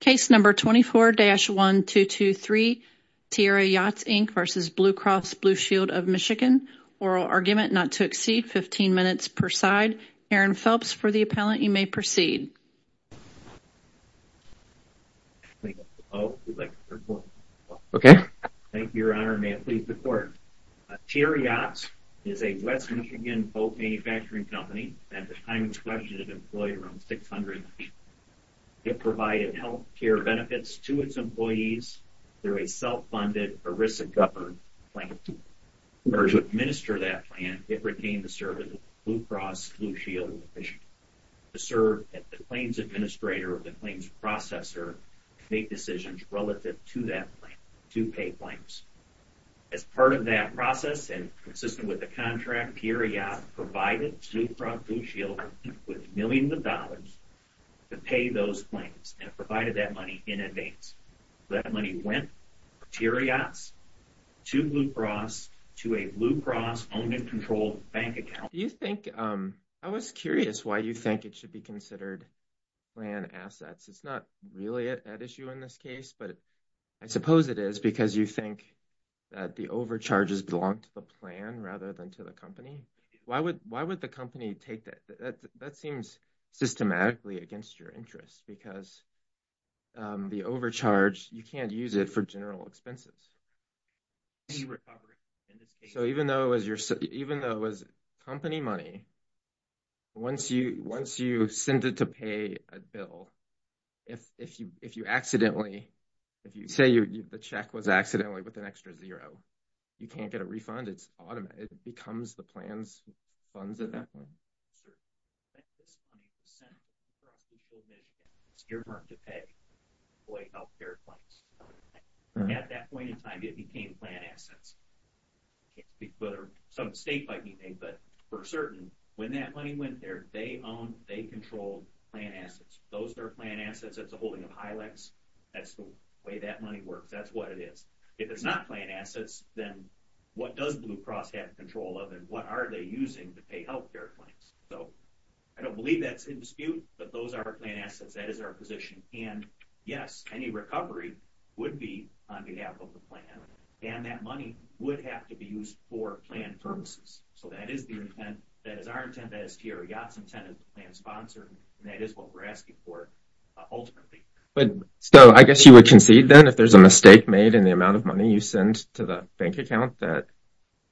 Case number 24-1223, Tiara Yachts Inc v. Blue Cross Blue Shield of Michigan, oral argument not to exceed 15 minutes per side. Aaron Phelps for the appellant, you may proceed. Okay, thank you your honor, may it please the court. Tiara Yachts is a West Michigan boat manufacturing company that at the time was questioned had employed around 600 people. It provided health care benefits to its employees through a self-funded ERISA-governed plan. In order to administer that plan, it retained the service of Blue Cross Blue Shield of Michigan to serve as the claims administrator or the claims processor and make decisions relative to that plan, to pay claims. As part of that process and consistent with the contract, provided Blue Cross Blue Shield with millions of dollars to pay those claims and provided that money in advance. That money went to Blue Cross to a Blue Cross owned and controlled bank account. Do you think, I was curious why you think it should be considered planned assets? It's not really an issue in this case, but I suppose it is because you think that the overcharges belong to the plan rather than to the company. Why would the company take that? That seems systematically against your interests because the overcharge, you can't use it for general expenses. So even though it was company money, once you send it to pay a bill, if you accidentally, if you say the check was accidentally with an extra zero, you can't get a refund. It's automatic. It becomes the plan's funds at that point. At that point in time, it became planned assets. Some state might be paying, but for certain, when that money went there, they owned, they controlled plan assets. Those are planned assets. That's a holding of Hilex. That's the way that money works. That's what it is. If it's not planned assets, then what does Blue Cross have control of and what are they using to pay health care claims? So I don't believe that's in dispute, but those are planned assets. That is our position. And yes, any recovery would be on behalf of the plan. And that money would have to be used for planned purposes. So that is the intent. That is our intent. That is T.R. Yacht's intent and sponsor. And that is what we're asking for ultimately. But so I guess you would concede then if there's a mistake made in the amount of money you send to the bank account, that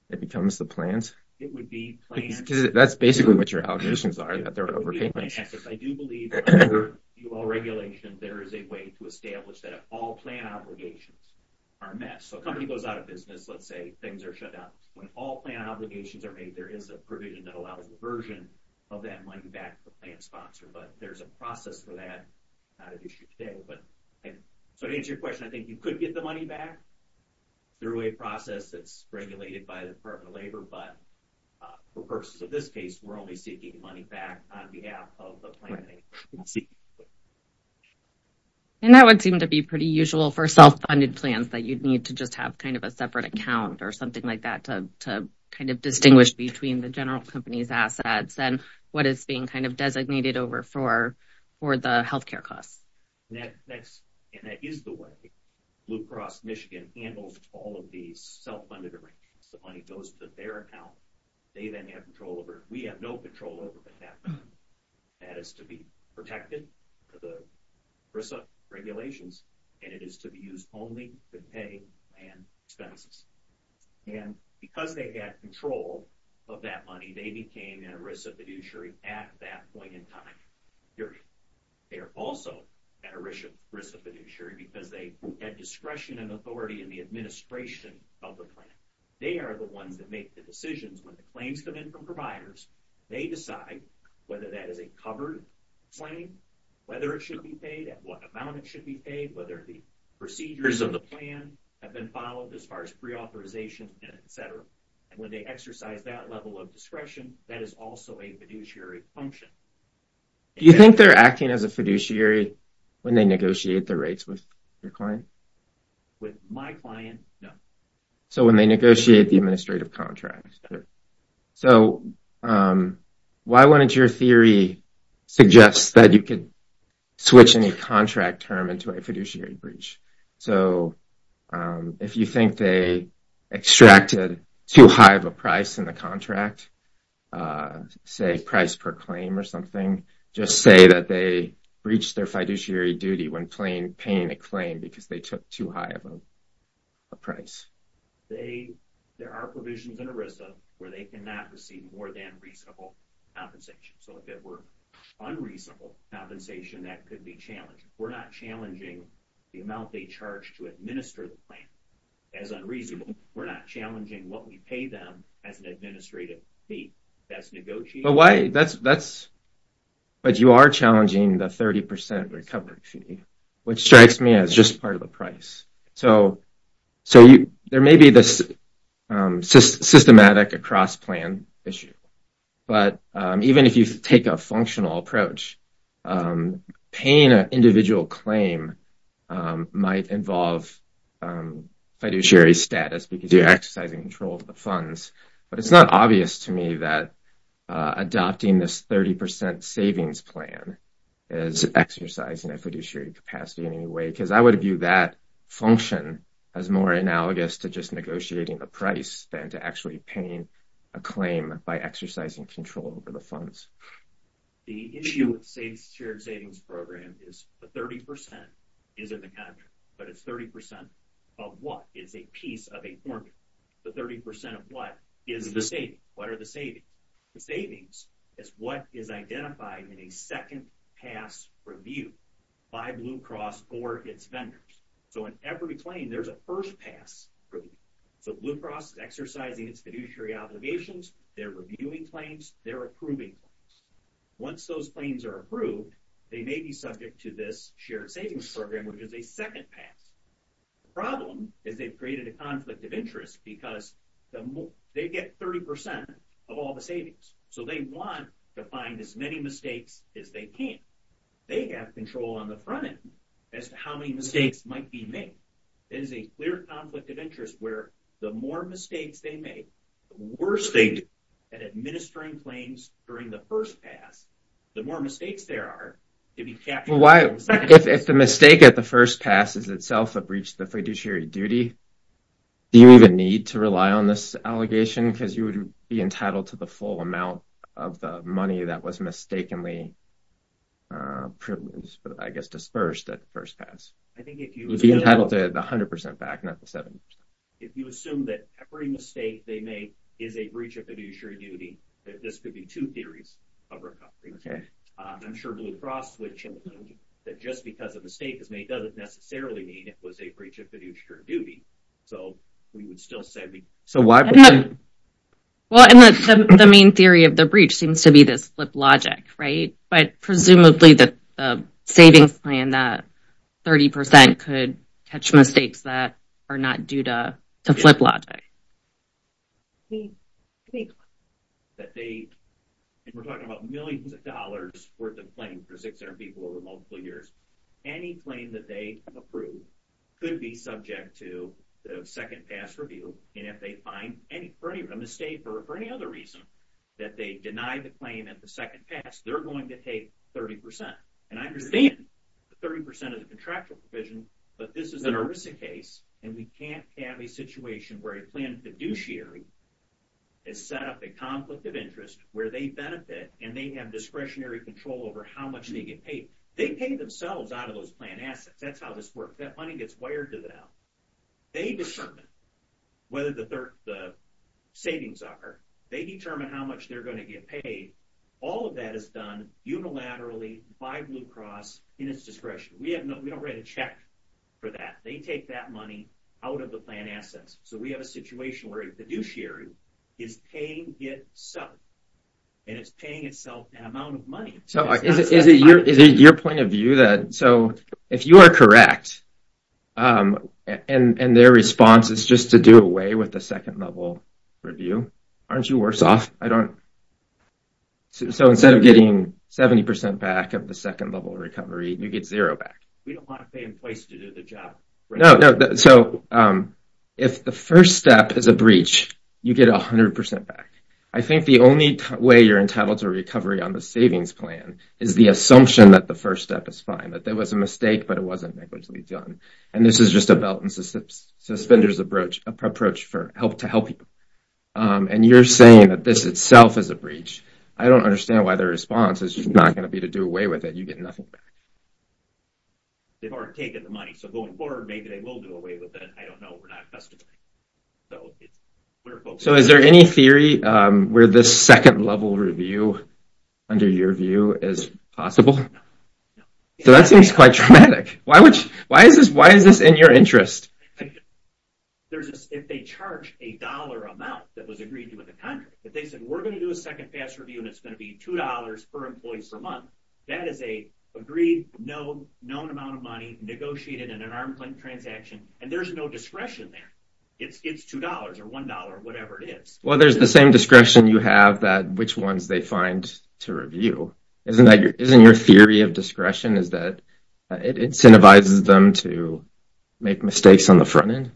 it becomes the plans? It would be planned. That's basically what your allegations are, that they're overpayments. I do believe there is a way to establish that if all plan obligations are met, so a company goes out of business, let's say things are shut down. When all plan obligations are made, there is a provision that allows a version of that money back to the plan sponsor. But there's a process for that. So to answer your question, I think you could get the money back through a process that's regulated by the Department of Labor. But for purposes of this case, we're only seeking money back on behalf of the plan maker. And that would seem to be pretty usual for self-funded plans, that you'd need to just kind of have a separate account or something like that to kind of distinguish between the general company's assets and what is being kind of designated over for the health care costs. And that is the way Blue Cross Michigan handles all of these self-funded arrangements. The money goes to their account. They then have control over it. We have no control over that. That is to be protected, the ERISA regulations, and it is to be used only to pay land expenses. And because they had control of that money, they became an ERISA fiduciary at that point in time, period. They are also an ERISA fiduciary because they had discretion and authority in the administration of the plan. They are the ones that make the decisions when the claims come in from buyers. They decide whether that is a covered claim, whether it should be paid, at what amount it should be paid, whether the procedures of the plan have been followed as far as pre-authorization and et cetera. And when they exercise that level of discretion, that is also a fiduciary function. Do you think they're acting as a fiduciary when they negotiate the rates with your client? With my client, no. So, when they negotiate the administrative contract. So, why wouldn't your theory suggest that you could switch any contract term into a fiduciary breach? So, if you think they extracted too high of a price in the contract, say price per claim or something, just say that they breached their fiduciary duty when paying a claim because they took too high of a price. They, there are provisions in ERISA where they cannot receive more than reasonable compensation. So, if it were unreasonable compensation, that could be challenged. We're not challenging the amount they charge to administer the plan as unreasonable. We're not challenging what we pay them as an administrative fee. That's negotiating. But why, that's, but you are challenging the 30 percent recovery fee, which strikes me as just part of the price. So, so you, there may be this systematic across plan issue. But even if you take a functional approach, paying an individual claim might involve fiduciary status because you're exercising control of the funds. But it's not obvious to me that adopting this 30 percent savings plan is exercising a fiduciary capacity in any way, because I would view that function as more analogous to just negotiating the price than to actually paying a claim by exercising control over the funds. The issue with savings, shared savings program is the 30 percent is in the contract, but it's 30 percent of what is a piece of a formula. The 30 percent of what is the savings? What are the savings? The savings is what is identified in a second pass review by Blue Cross or its vendors. So in every claim, there's a first pass review. So Blue Cross is exercising its fiduciary obligations. They're reviewing claims. They're approving claims. Once those claims are approved, they may be subject to this shared savings program, which is a second pass. The problem is they've created a conflict of interest because they get 30 percent of all the savings. So they want to find as many mistakes as they can. They have control on the front end as to how many mistakes might be made. It is a clear conflict of interest where the more mistakes they make, the worse they do at administering claims during the first pass, the more mistakes there are. If the mistake at the on this allegation, because you would be entitled to the full amount of the money that was mistakenly privileged, I guess, dispersed at first pass. I think if you would be entitled to the 100 percent back, not the 70 percent. If you assume that every mistake they make is a breach of fiduciary duty, this could be two theories of recovery. I'm sure Blue Cross would tell you that just because a mistake is made doesn't necessarily mean it was a breach of fiduciary duty. So we would still say it was a breach of fiduciary duty. The main theory of the breach seems to be this flip logic, right? But presumably the savings plan that 30 percent could catch mistakes that are not due to to flip logic. We think that they, and we're talking about millions of dollars worth of claims for 600 people over multiple years, any claim that they approve could be subject to the second pass review. And if they find any for any mistake or for any other reason that they deny the claim at the second pass, they're going to take 30 percent. And I understand 30 percent of the contractual provision, but this is an ERISA case and we can't have a situation where a planned fiduciary has set up a conflict of interest where they benefit and they have discretionary control over how much they get paid. They pay themselves out of those planned assets. That's how this works. That money gets wired to them. They determine whether the savings are. They determine how much they're going to get paid. All of that is done unilaterally by Blue Cross in its discretion. We don't write a check for that. They take that money out of the planned assets. So we have a situation where a fiduciary is paying itself and it's paying itself an amount of money. So is it your point of view that so if you are correct and their response is just to do away with the second level review, aren't you worse off? So instead of getting 70 percent back of the second level recovery, you get zero back. We don't want to pay in place to do the job. No, so if the first step is a breach, you get 100 percent back. I think the only way you're entitled to recovery on the savings plan is the assumption that the first step is fine. That there was a mistake but it wasn't negligibly done. And this is just a belt and suspenders approach to help people. And you're saying that this itself is a breach. I don't understand why their response is just not going to be to do away with it. You get nothing back. They've already taken the money. So going forward, maybe they will do away with it. I don't know. So is there any theory where this second level review under your view is possible? So that seems quite traumatic. Why is this in your interest? There's this if they charge a dollar amount that was agreed to with the contract. If they said we're going to do a second fast review and it's going to be two dollars per employee per month, that is an agreed known amount of money negotiated in an arm's length transaction. And there's no discretion there. It's two dollars or one dollar, whatever it is. Well, there's the same discretion you have that which ones they find to review. Isn't your theory of discretion is that it incentivizes them to make mistakes on the front end?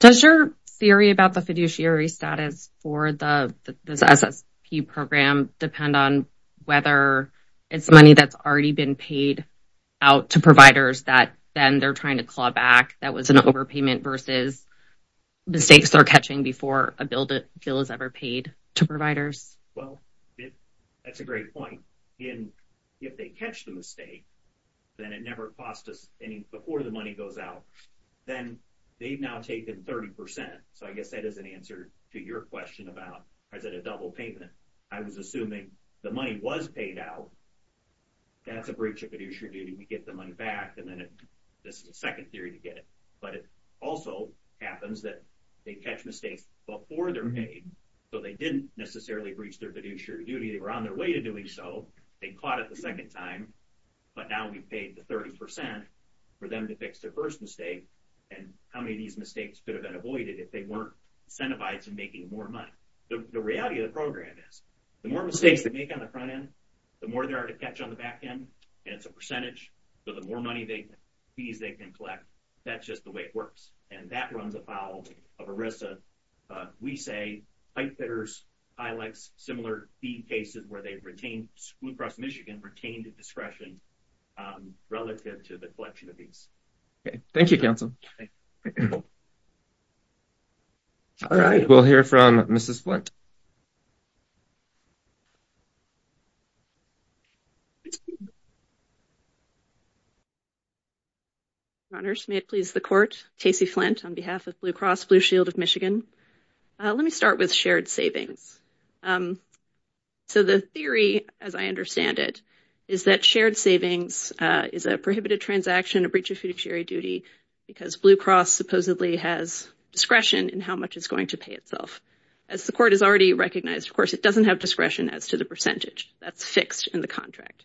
Does your theory about the fiduciary status for the SSP program depend on whether it's money that's already been paid out to providers that then they're trying to claw back that was an overpayment versus mistakes they're catching before a bill is ever paid to providers? Well, that's a great point. If they catch the mistake, then it never cost us any before the money goes out. Then they've now taken 30 percent. So I guess that is an answer to your question about, is it a double payment? I was assuming the money was paid out. That's a breach of fiduciary duty. We get the money back and then this is a second theory to get it. But it also happens that they catch mistakes before they're made. So they didn't necessarily breach their fiduciary duty. They were on their way to doing so. They caught it the second time. But now we've paid the 30 percent for them to fix their first mistake. And how many of these mistakes could have been avoided if they weren't incentivized to making more money? The reality of the program is, the more mistakes they make on the front end, the more they are to catch on the back end. And it's a percentage. So the more money they, fees they can collect, that's just the way it works. And that runs afoul of ERISA. We say pipefitters highlights similar fee cases where they've retained, school across Michigan retained discretion relative to the collection of these. Okay. Thank you, counsel. All right. We'll hear from Mrs. Flint. Your honors, may it please the court. Casey Flint on behalf of Blue Cross Blue Shield of Michigan. Let me start with shared savings. So the theory, as I understand it, is that shared savings is a prohibited transaction, a breach of fiduciary duty, because Blue Cross supposedly has discretion in how much it's going to pay itself. As the court has already recognized, of course, it doesn't have discretion as to the percentage. That's fixed in the contract.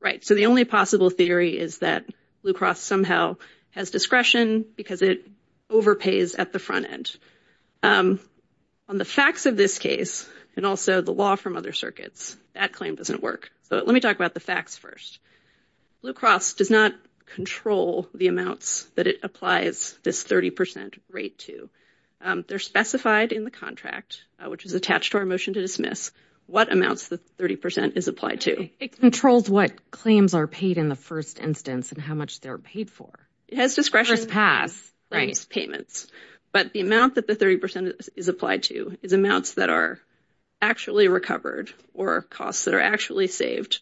Right. So the only possible theory is that Blue Cross somehow has discretion because it overpays at the front end. On the facts of this case and also the law from other circuits, that claim doesn't work. So let me talk about the facts first. Blue Cross does not control the amounts that it applies this 30% rate to. They're specified in the contract, which is attached to our motion to dismiss what amounts the 30% is applied to. It controls what claims are paid in the first instance and how much they're paid for. It has discretion. First pass. Right. Payments. But the amount that the 30% is applied to is amounts that are actually recovered or costs that are actually saved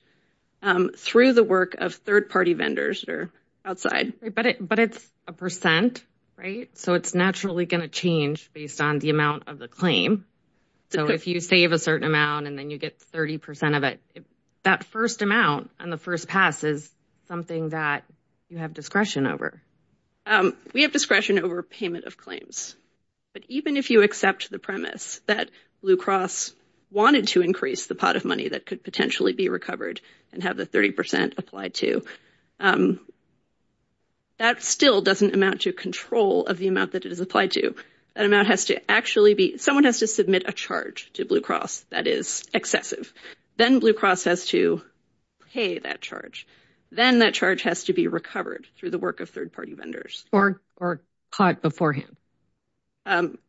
through the work of third-party vendors that are outside. But it's a percent, right? So it's going to change based on the amount of the claim. So if you save a certain amount and then you get 30% of it, that first amount on the first pass is something that you have discretion over. We have discretion over payment of claims. But even if you accept the premise that Blue Cross wanted to increase the pot of money that could potentially be recovered and have the 30% applied to, that still doesn't amount to control of the amount that it is applied to. Someone has to submit a charge to Blue Cross that is excessive. Then Blue Cross has to pay that charge. Then that charge has to be recovered through the work of third-party vendors. Or caught beforehand.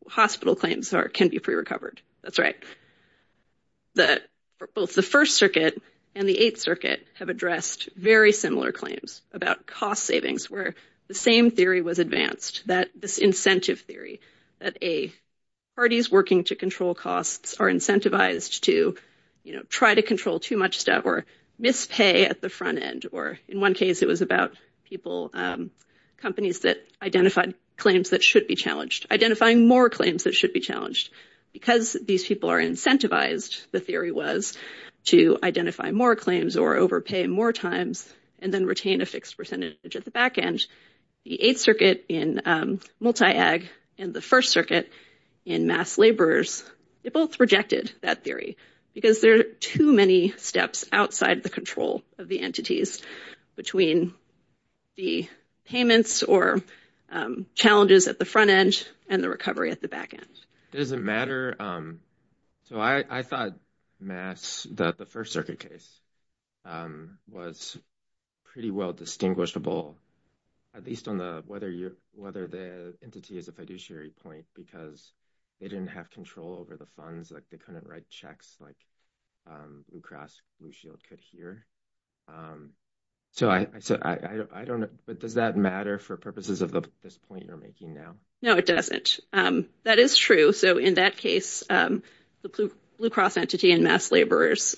Hospital claims can be pre-recovered. That's right. Both the First Circuit and the Eighth have addressed very similar claims about cost savings, where the same theory was advanced, that this incentive theory, that A, parties working to control costs are incentivized to try to control too much stuff or mispay at the front end. Or in one case, it was about people, companies that identified claims that should be challenged, identifying more claims that should be challenged. Because these people are incentivized, the theory was to identify more claims or overpay more times and then retain a fixed percentage at the back end. The Eighth Circuit in multi-ag and the First Circuit in mass laborers, they both rejected that theory because there are too many steps outside the control of the entities between the payments or challenges at the front end and the recovery at the back end. Does it matter? So I thought mass, the First Circuit case, was pretty well distinguishable, at least on the, whether the entity is a fiduciary point, because they didn't have control over the funds, like they couldn't write checks like Blue Cross Blue Shield could here. So I don't know, but does that matter for purposes of this point you're making now? No, it doesn't. That is true. So in that case, the Blue Cross entity and mass laborers,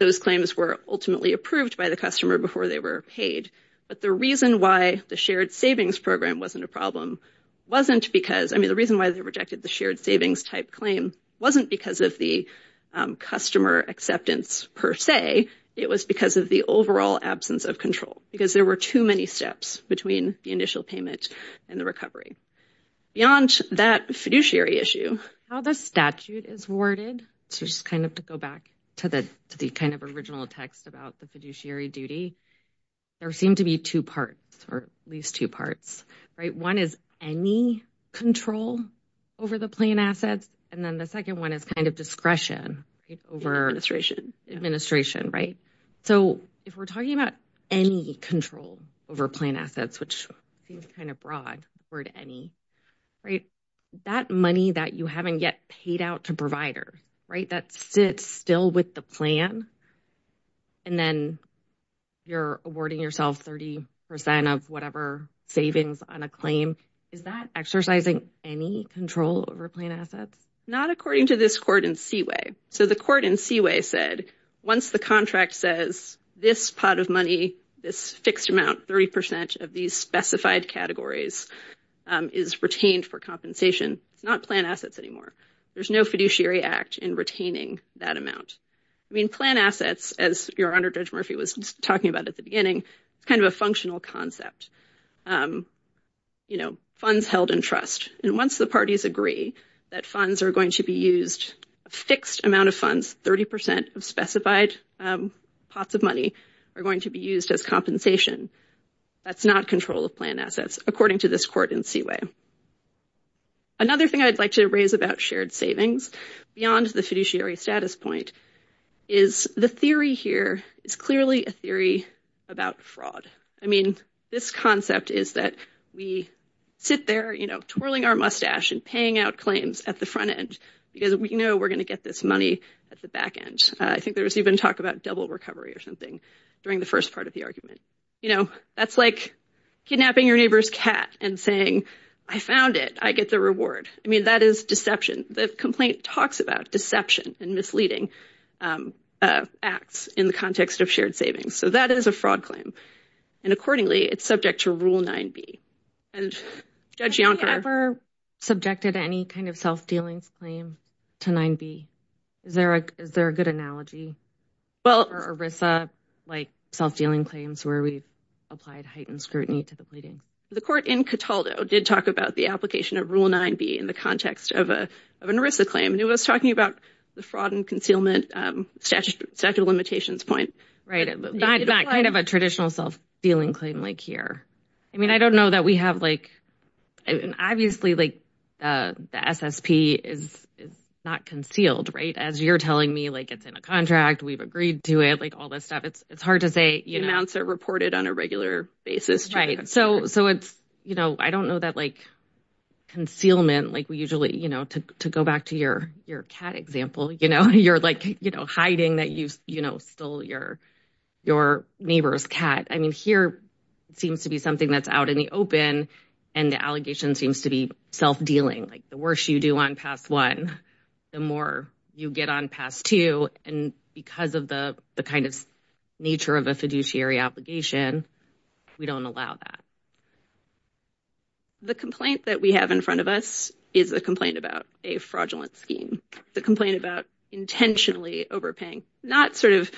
those claims were ultimately approved by the customer before they were paid. But the reason why the shared savings program wasn't a problem wasn't because, I mean, the reason why they rejected the shared savings type claim wasn't because of the customer acceptance per se. It was because of the overall absence of control, because there were too many steps between the initial payment and the recovery. Beyond that fiduciary issue. How the statute is worded, so just kind of to go back to the kind of original text about the fiduciary duty, there seem to be two parts, or at least two parts, right? One is any control over the plain assets, and then the second one is kind of discretion over administration, right? So if we're talking about any control over plain assets, which seems kind of broad, the word any, right, that money that you haven't yet paid out to provider, right, that sits still with the plan, and then you're awarding yourself 30 percent of whatever savings on a claim, is that exercising any control over plain assets? Not according to this court in Seaway. So the court in Seaway said, once the says this pot of money, this fixed amount, 30 percent of these specified categories is retained for compensation, it's not plain assets anymore. There's no fiduciary act in retaining that amount. I mean, plain assets, as your Honor Judge Murphy was talking about at the beginning, it's kind of a functional concept. You know, funds held in trust, and once the parties agree that funds are going to be used, a fixed amount of funds, 30 percent of specified pots of money, are going to be used as compensation. That's not control of plain assets according to this court in Seaway. Another thing I'd like to raise about shared savings beyond the fiduciary status point is the theory here is clearly a theory about fraud. I mean, this concept is that we sit there, you know, twirling our mustache and paying out claims at the front end because we know we're going to get this money at the back end. I think there was even talk about double recovery or something during the first part of the argument. You know, that's like kidnapping your neighbor's cat and saying, I found it, I get the reward. I mean, that is deception. The complaint talks about deception and misleading acts in the context of shared savings. So that is a fraud claim. And accordingly, it's subject to Rule 9B. And Judge Yonker- Have you ever subjected any kind of self-dealings claim to 9B? Is there a good analogy? Well- Or ERISA, like self-dealing claims where we've applied heightened scrutiny to the pleading? The court in Cataldo did talk about the application of Rule 9B in the context of an ERISA claim, it was talking about the fraud and concealment statute of limitations point. Right. Not kind of a traditional self-dealing claim like here. I mean, I don't know that we have like, obviously, like the SSP is not concealed, right? As you're telling me, like it's in a contract, we've agreed to it, like all this stuff. It's hard to say, you know- Amounts are reported on a regular basis. Right. So it's, you know, I don't know that like concealment, like we usually, you know, to go back to your cat example, you know, you're like, you know, hiding that you, you know, stole your neighbor's cat. I mean, here seems to be something that's out in the open. And the allegation seems to be self-dealing, like the worse you do on pass one, the more you get on pass two. And because of the kind of nature of a fiduciary obligation, we don't allow that. The complaint that we have in front of us is a complaint about a fraudulent scheme. The complaint about intentionally overpaying, not sort of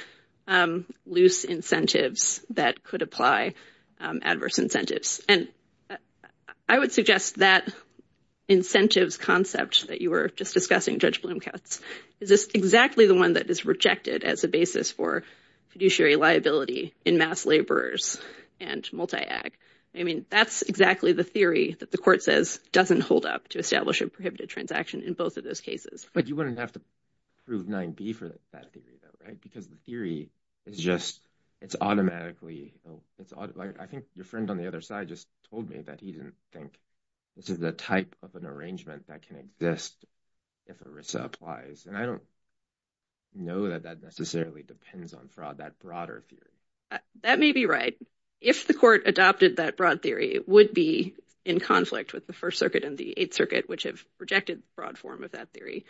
loose incentives that could apply adverse incentives. And I would suggest that incentives concept that you were just discussing, Judge Bloomcats, is this exactly the one that is rejected as a basis for fiduciary liability in mass laborers and multi-ag. I mean, that's exactly the theory that the court says doesn't hold up to establish a prohibited transaction in both of those cases. But you wouldn't have to prove 9b for that theory though, right? Because the theory is just, it's automatically, I think your friend on the other side just told me that he didn't think this is the type of an arrangement that can exist if ERISA applies. And I don't know that that necessarily depends on fraud, that broader theory. That may be right. If the court adopted that broad theory, it would be in conflict with the First Circuit and the Eighth Circuit, which have rejected the broad form of that theory.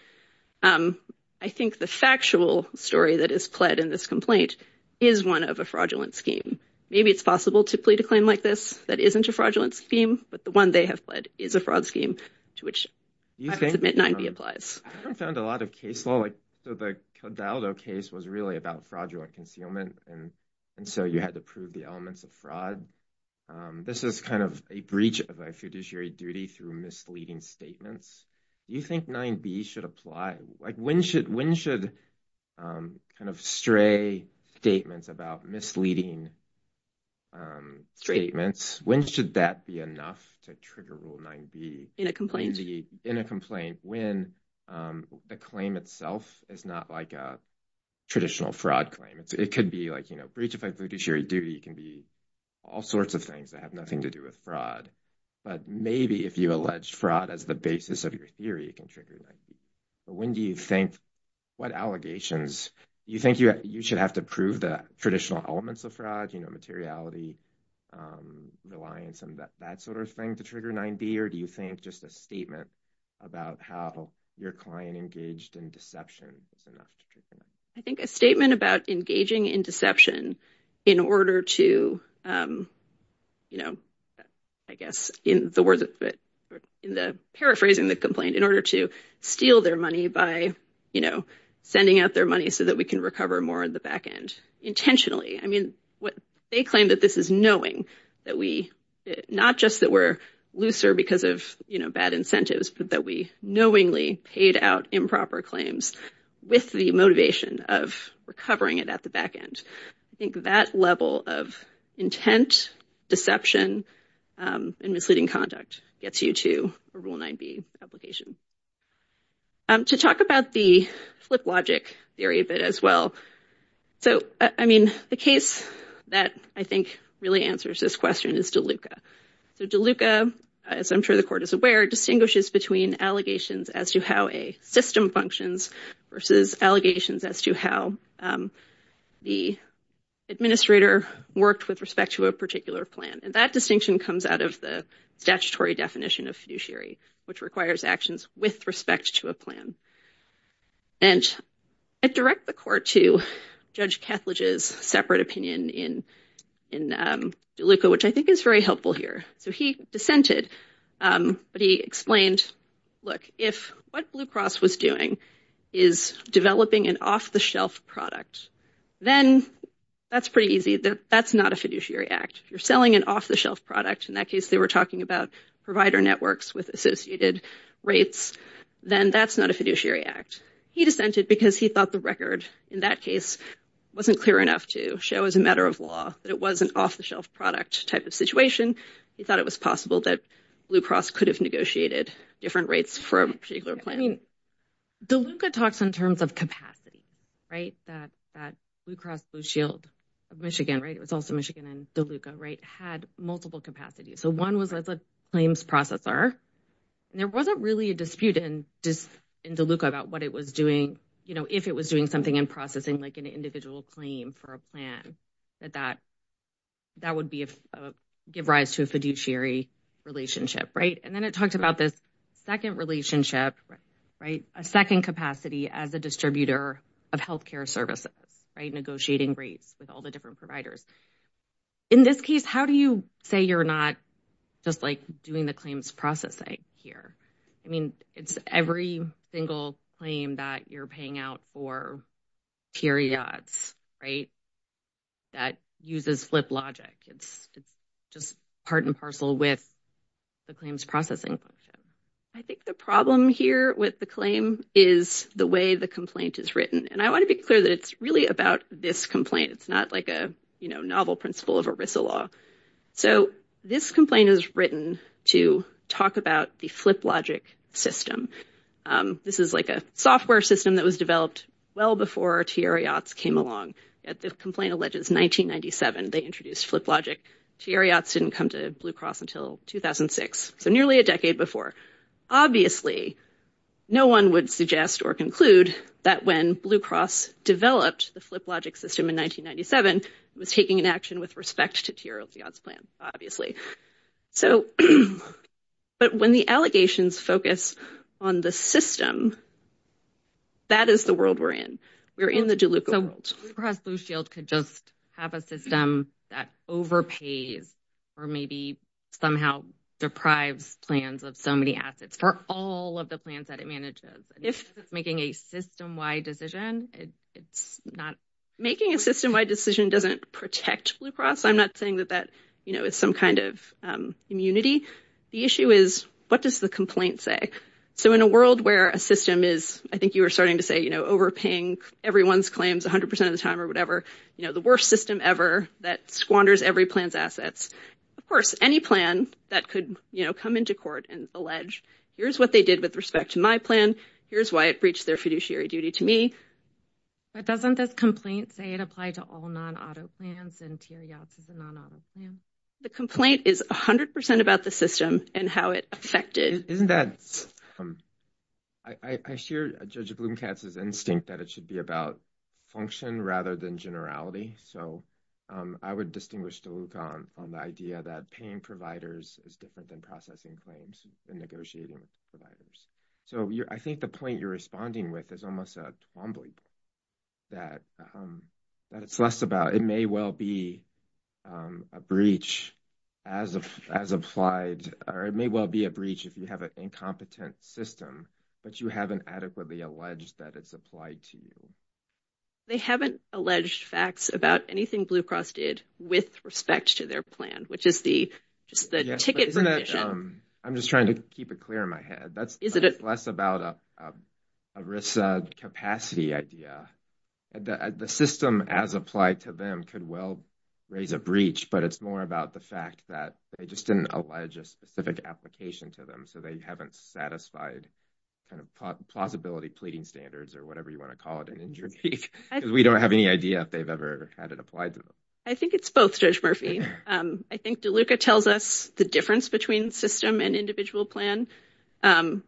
I think the factual story that is pled in this complaint is one of a fraudulent scheme. Maybe it's possible to plead a claim like this that isn't a fraudulent scheme, but the one they have pled is a fraud scheme to which I would submit 9b applies. I haven't found a lot of case law, like the Codaldo case was really about fraudulent concealment. And so you had to prove the elements of fraud. This is kind of a breach of a fiduciary duty through misleading statements. You think 9b should apply, like when should kind of stray statements about misleading statements, when should that be enough to trigger Rule 9b? In a complaint. In a complaint, when the claim itself is not like a traditional fraud claim. It could be like, you know, breach of a fiduciary duty. It can be all sorts of things that have nothing to do with fraud. But maybe if you allege fraud as the basis of your theory, it can trigger 9b. But when do you think, what allegations, you think you should have to prove the traditional elements of fraud, you know, materiality, reliance, and that sort of thing to trigger 9b? Or do you think just a statement about how your client engaged in deception is enough to trigger 9b? I think a statement about engaging in deception in order to, you know, I guess in the words, in the paraphrasing the complaint, in order to steal their money by, you know, sending out their money so that we can recover more on the back end. Intentionally. I mean, what they claim that this is knowing that we, not just that we're looser because of, you know, bad incentives, but that we knowingly paid out improper claims with the motivation of recovering it at the back end. I think that level of intent, deception, and misleading conduct gets you to a Rule 9b application. To talk about the flip logic theory a bit as well. So, I mean, the case that I think really answers this question is DeLuca. So, DeLuca, as I'm sure the court is aware, distinguishes between allegations as to how a system functions versus allegations as to how the administrator worked with respect to a particular plan. And that distinction comes out of the statutory definition of fiduciary, which requires actions with respect to a plan. And I direct the court to Judge Kethledge's separate opinion in DeLuca, which I think is very helpful here. So, he dissented, but he explained, look, if what Blue Cross was doing is developing an off-the-shelf product, then that's pretty easy. That's not a fiduciary act. If you're selling an off-the-shelf product, in that case, they were talking about provider networks with associated rates, then that's not a fiduciary act. He dissented because he thought the record in that case wasn't clear enough to show as a matter of law that it was an off-the-shelf product type of situation. He thought it was possible that Blue Cross could have negotiated different rates for a particular plan. I mean, DeLuca talks in terms of capacity, right? That Blue Cross Blue Shield of Michigan, right? It was also Michigan and DeLuca, right? Had multiple capacities. So, one was as a claims processor, and there wasn't really a dispute in DeLuca about what it was doing, you know, if it was doing something in processing like an individual claim for a plan, that that would give rise to a fiduciary relationship, right? And then it talked about this second relationship, right? A second capacity as a distributor of healthcare services, right? Negotiating rates with all the different providers. In this case, how do you say you're not just like doing the claims processing here? I mean, it's every single claim that you're paying out for periods, right? That uses flip logic. It's just part and parcel with the claims processing. I think the problem here with the claim is the way the complaint is written. And I want to be clear that it's really about this complaint. It's not like a, you know, novel principle of ERISA law. So, this complaint is written to talk about the flip logic system. This is like a software system that was developed well before Tieriat's came along. The complaint alleges 1997, they introduced flip logic. Tieriat's didn't come to Blue Cross until 2006. So, nearly a decade before. Obviously, no one would suggest or conclude that when Blue Cross developed the flip logic system in 1997, it was taking an action with respect to Tieriat's plan, obviously. So, but when the allegations focus on the system, that is the world we're in. We're in the DeLuca world. So, Blue Cross Blue Shield could just have a system that overpays or maybe somehow deprives plans of so many assets for all of the plans that it manages. If making a system-wide decision, it's not... Making a system-wide decision doesn't protect Blue Cross. I'm not saying that that, you know, is some kind of immunity. The issue is what does the complaint say? So, in a world where a system is, I think you were starting to say, you know, overpaying everyone's claims 100% of the time or whatever, you know, the worst system ever that squanders every plan's assets. Of course, any plan that could, you know, come into court and allege, here's what they did with respect to my plan. Here's why it breached their fiduciary duty to me. But doesn't this complaint say it applied to all non-auto plans and Tieriat's is a non-auto plan? The complaint is 100% about the system and how it affected... Isn't that... I share Judge Blumkatz's instinct that it should be about function rather than generality. So, I would distinguish DeLuca on the idea that paying providers is different than processing claims. Negotiating providers. So, I think the point you're responding with is almost a bumbling that it's less about... It may well be a breach as applied or it may well be a breach if you have an incompetent system that you haven't adequately alleged that it's applied to you. They haven't alleged facts about anything Blue Cross did with respect to their plan, which is just the ticket... I'm just trying to keep it clear in my head. That's less about a risk capacity idea. The system as applied to them could well raise a breach, but it's more about the fact that they just didn't allege a specific application to them. So, they haven't satisfied kind of plausibility pleading standards or whatever you want to call it in your case. We don't have any idea if they've ever had it applied to them. I think it's both, Judge Murphy. I think DeLuca tells us the difference between system and individual plan. And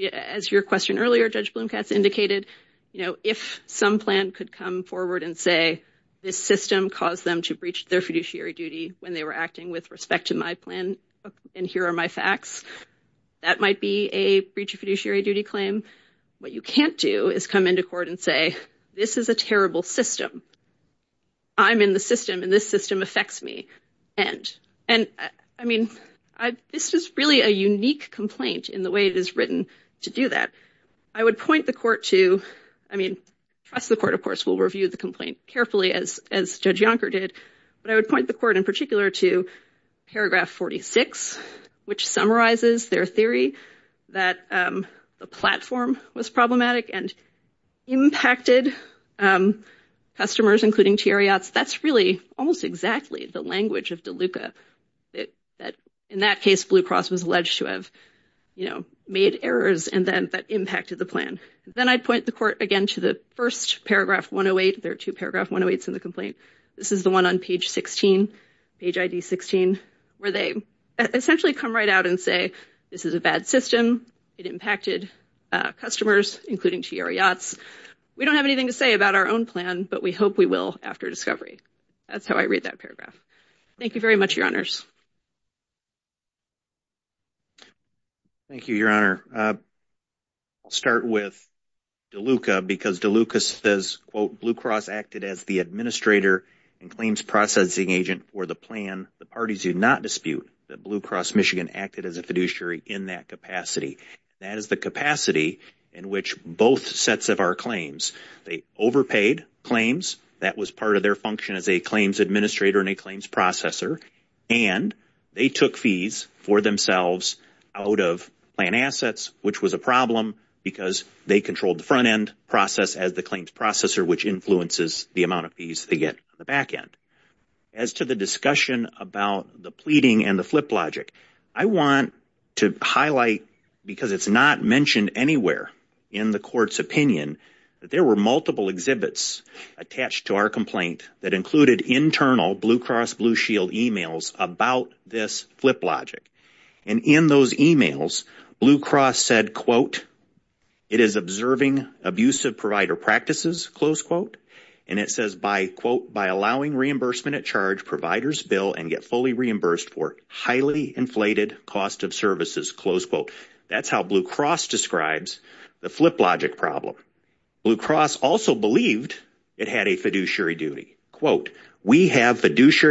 as your question earlier, Judge Blumkatz indicated, you know, if some plan could come forward and say this system caused them to breach their fiduciary duty when they were acting with respect to my plan and here are my facts, that might be a breach of fiduciary duty claim. What you can't do is come into court and this is a terrible system. I'm in the system and this system affects me. And I mean, this is really a unique complaint in the way it is written to do that. I would point the court to, I mean, trust the court, of course, will review the complaint carefully as Judge Yonker did, but I would point the court in particular to paragraph 46, which summarizes their theory that the platform was problematic and impacted customers, including Teareots. That's really almost exactly the language of DeLuca that, in that case, Blue Cross was alleged to have, you know, made errors and then that impacted the plan. Then I'd point the court again to the first paragraph 108. There are two paragraph 108s in the complaint. This is the one on page 16, page ID 16, where they essentially come right out and say this is a bad system. It impacted customers, including Teareots. We don't have anything to say about our own plan, but we hope we will after discovery. That's how I read that paragraph. Thank you very much, your honors. Thank you, your honor. I'll start with DeLuca because DeLuca says, quote, as the administrator and claims processing agent for the plan, the parties do not dispute that Blue Cross Michigan acted as a fiduciary in that capacity. That is the capacity in which both sets of our claims, they overpaid claims. That was part of their function as a claims administrator and a claims processor. And they took fees for themselves out of plan assets, which was a problem because they controlled the front end process as the claims processor, which influences the amount of fees they get on the back end. As to the discussion about the pleading and the flip logic, I want to highlight because it's not mentioned anywhere in the court's opinion that there were multiple exhibits attached to our complaint that included internal Blue Cross Blue Shield emails about this flip logic. And in those emails, Blue Cross said, quote, it is observing abusive provider practices, close quote. And it says by quote, by allowing reimbursement at charge providers bill and get fully reimbursed for highly inflated cost of services, close quote. That's how Blue Cross describes the flip logic problem. Blue Cross also believed it had a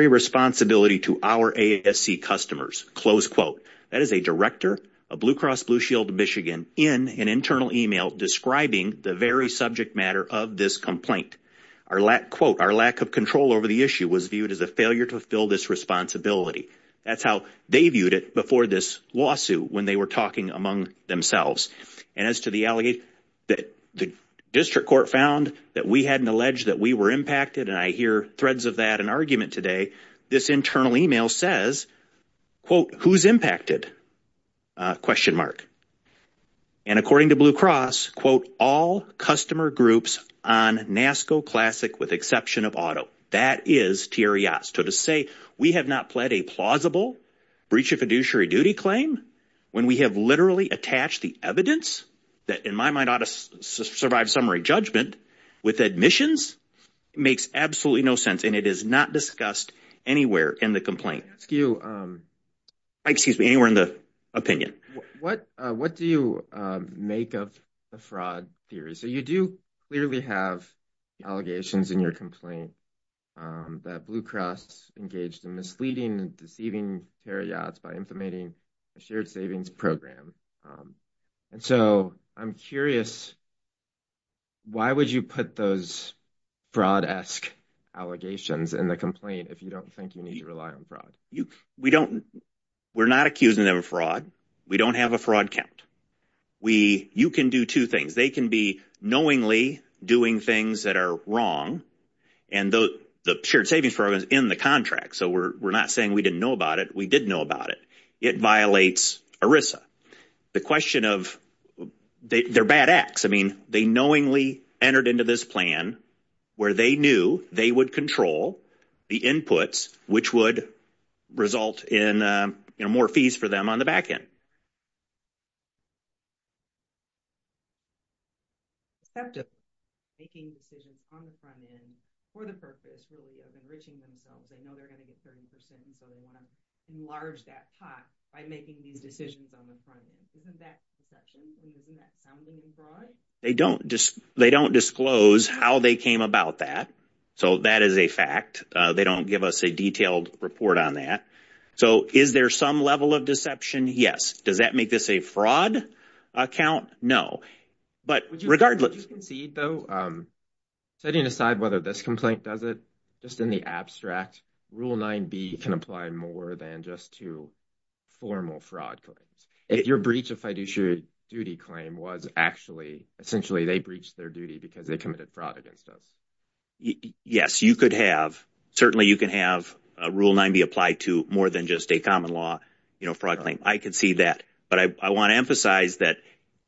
responsibility to our ASC customers, close quote. That is a director of Blue Cross Blue Shield of Michigan in an internal email describing the very subject matter of this complaint. Our lack, quote, our lack of control over the issue was viewed as a failure to fulfill this responsibility. That's how they viewed it before this lawsuit when they were talking among themselves. And as to the allegation that the district court found that we hadn't alleged that we were impacted, and I hear threads of that in argument today, this internal email says, quote, who's impacted? Question mark. And according to Blue Cross, quote, all customer groups on NASCO Classic with exception of auto. That is to say we have not pled a plausible breach of fiduciary duty claim when we have literally attached the evidence that in my mind ought to survive summary judgment with admissions. It makes absolutely no sense and it is not discussed anywhere in the complaint. Excuse me, anywhere in the opinion. What do you make of the fraud theory? So you do clearly have allegations in your complaint that Blue Cross engaged in misleading and deceiving paragods by implementing a shared savings program. And so I'm curious, why would you put those fraud-esque allegations in the complaint if you don't think you need to rely on fraud? We don't, we're not accusing them of fraud. We don't have a fraud count. We, you can do two things. They can be knowingly doing things that are wrong and the shared know about it. It violates ERISA. The question of, they're bad acts. I mean, they knowingly entered into this plan where they knew they would control the inputs which would result in more fees for them on the back end. They don't disclose how they came about that. So that is a fact. They don't give us a detailed report on that. So is there some level of deception? Yes. Does that make this a fraud account? No. But regardless. Would you concede though, setting aside whether this complaint does it, just in the abstract, Rule 9b can apply more than just to formal fraud claims. If your breach of fiduciary duty claim was actually, essentially they breached their duty because they committed fraud against us. Yes, you could have. Certainly you can have Rule 9b apply to more than just a common law fraud claim. I could see that. But I want to emphasize that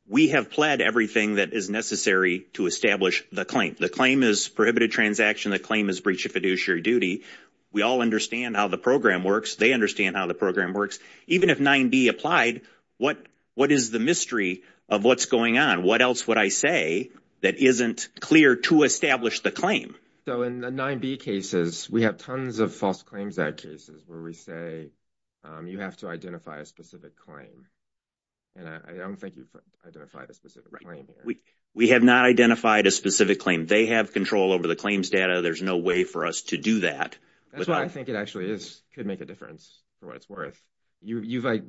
we have pled everything that is necessary to establish the claim. The claim is prohibited transaction. The claim is breach of fiduciary duty. We all understand how the program works. They understand how the program works. Even if 9b applied, what is the mystery of what's going on? What else would I say that isn't clear to establish the claim? So in the 9b cases, we have tons of false claims that cases where we say you have to identify a specific claim. And I don't think you've identified a specific claim. We have not identified a specific claim. They have control over the claims data. There's no way for us to do that. That's why I think it actually is could make a difference for what it's worth.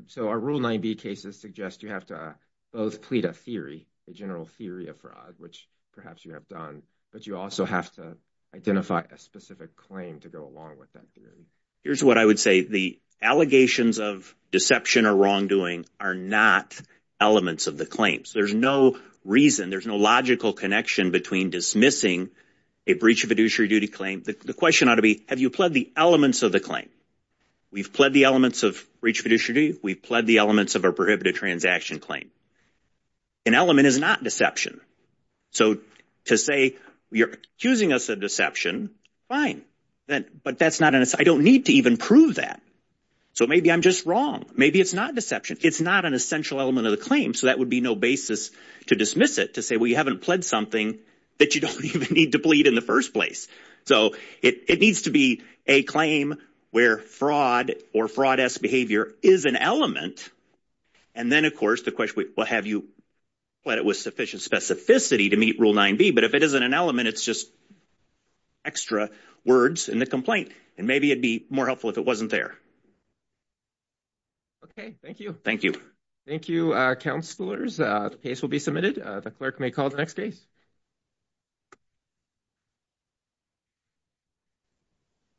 So our Rule 9b cases suggest you have to both plead a theory, a general theory of fraud, which perhaps you have done. But you also have to identify a specific claim to go along with that theory. Here's what I would say. The allegations of deception or wrongdoing are not elements of the claims. There's no reason. There's no logical connection between dismissing a breach of fiduciary duty claim. The question ought to be, have you pled the elements of the claim? We've pled the elements of breach fiduciary. We've pled the elements of a prohibited transaction claim. An element is not deception. So to say you're accusing us of deception, fine. But that's not an, I don't need to even prove that. So maybe I'm just wrong. Maybe it's not deception. It's not an essential element of the claim. So that would be no basis to dismiss it, to say, well, you haven't pled something that you don't even need to plead in the first place. So it needs to be a claim where fraud or fraud-esque behavior is an element. And then, of course, the question, well, have you pled it with sufficient specificity to meet Rule 9b? But if it isn't an element, it's just extra words in the complaint. And maybe it'd be more helpful if it wasn't there. Okay. Thank you. Thank you. Thank you, counselors. The case will be submitted. The clerk may call the next case.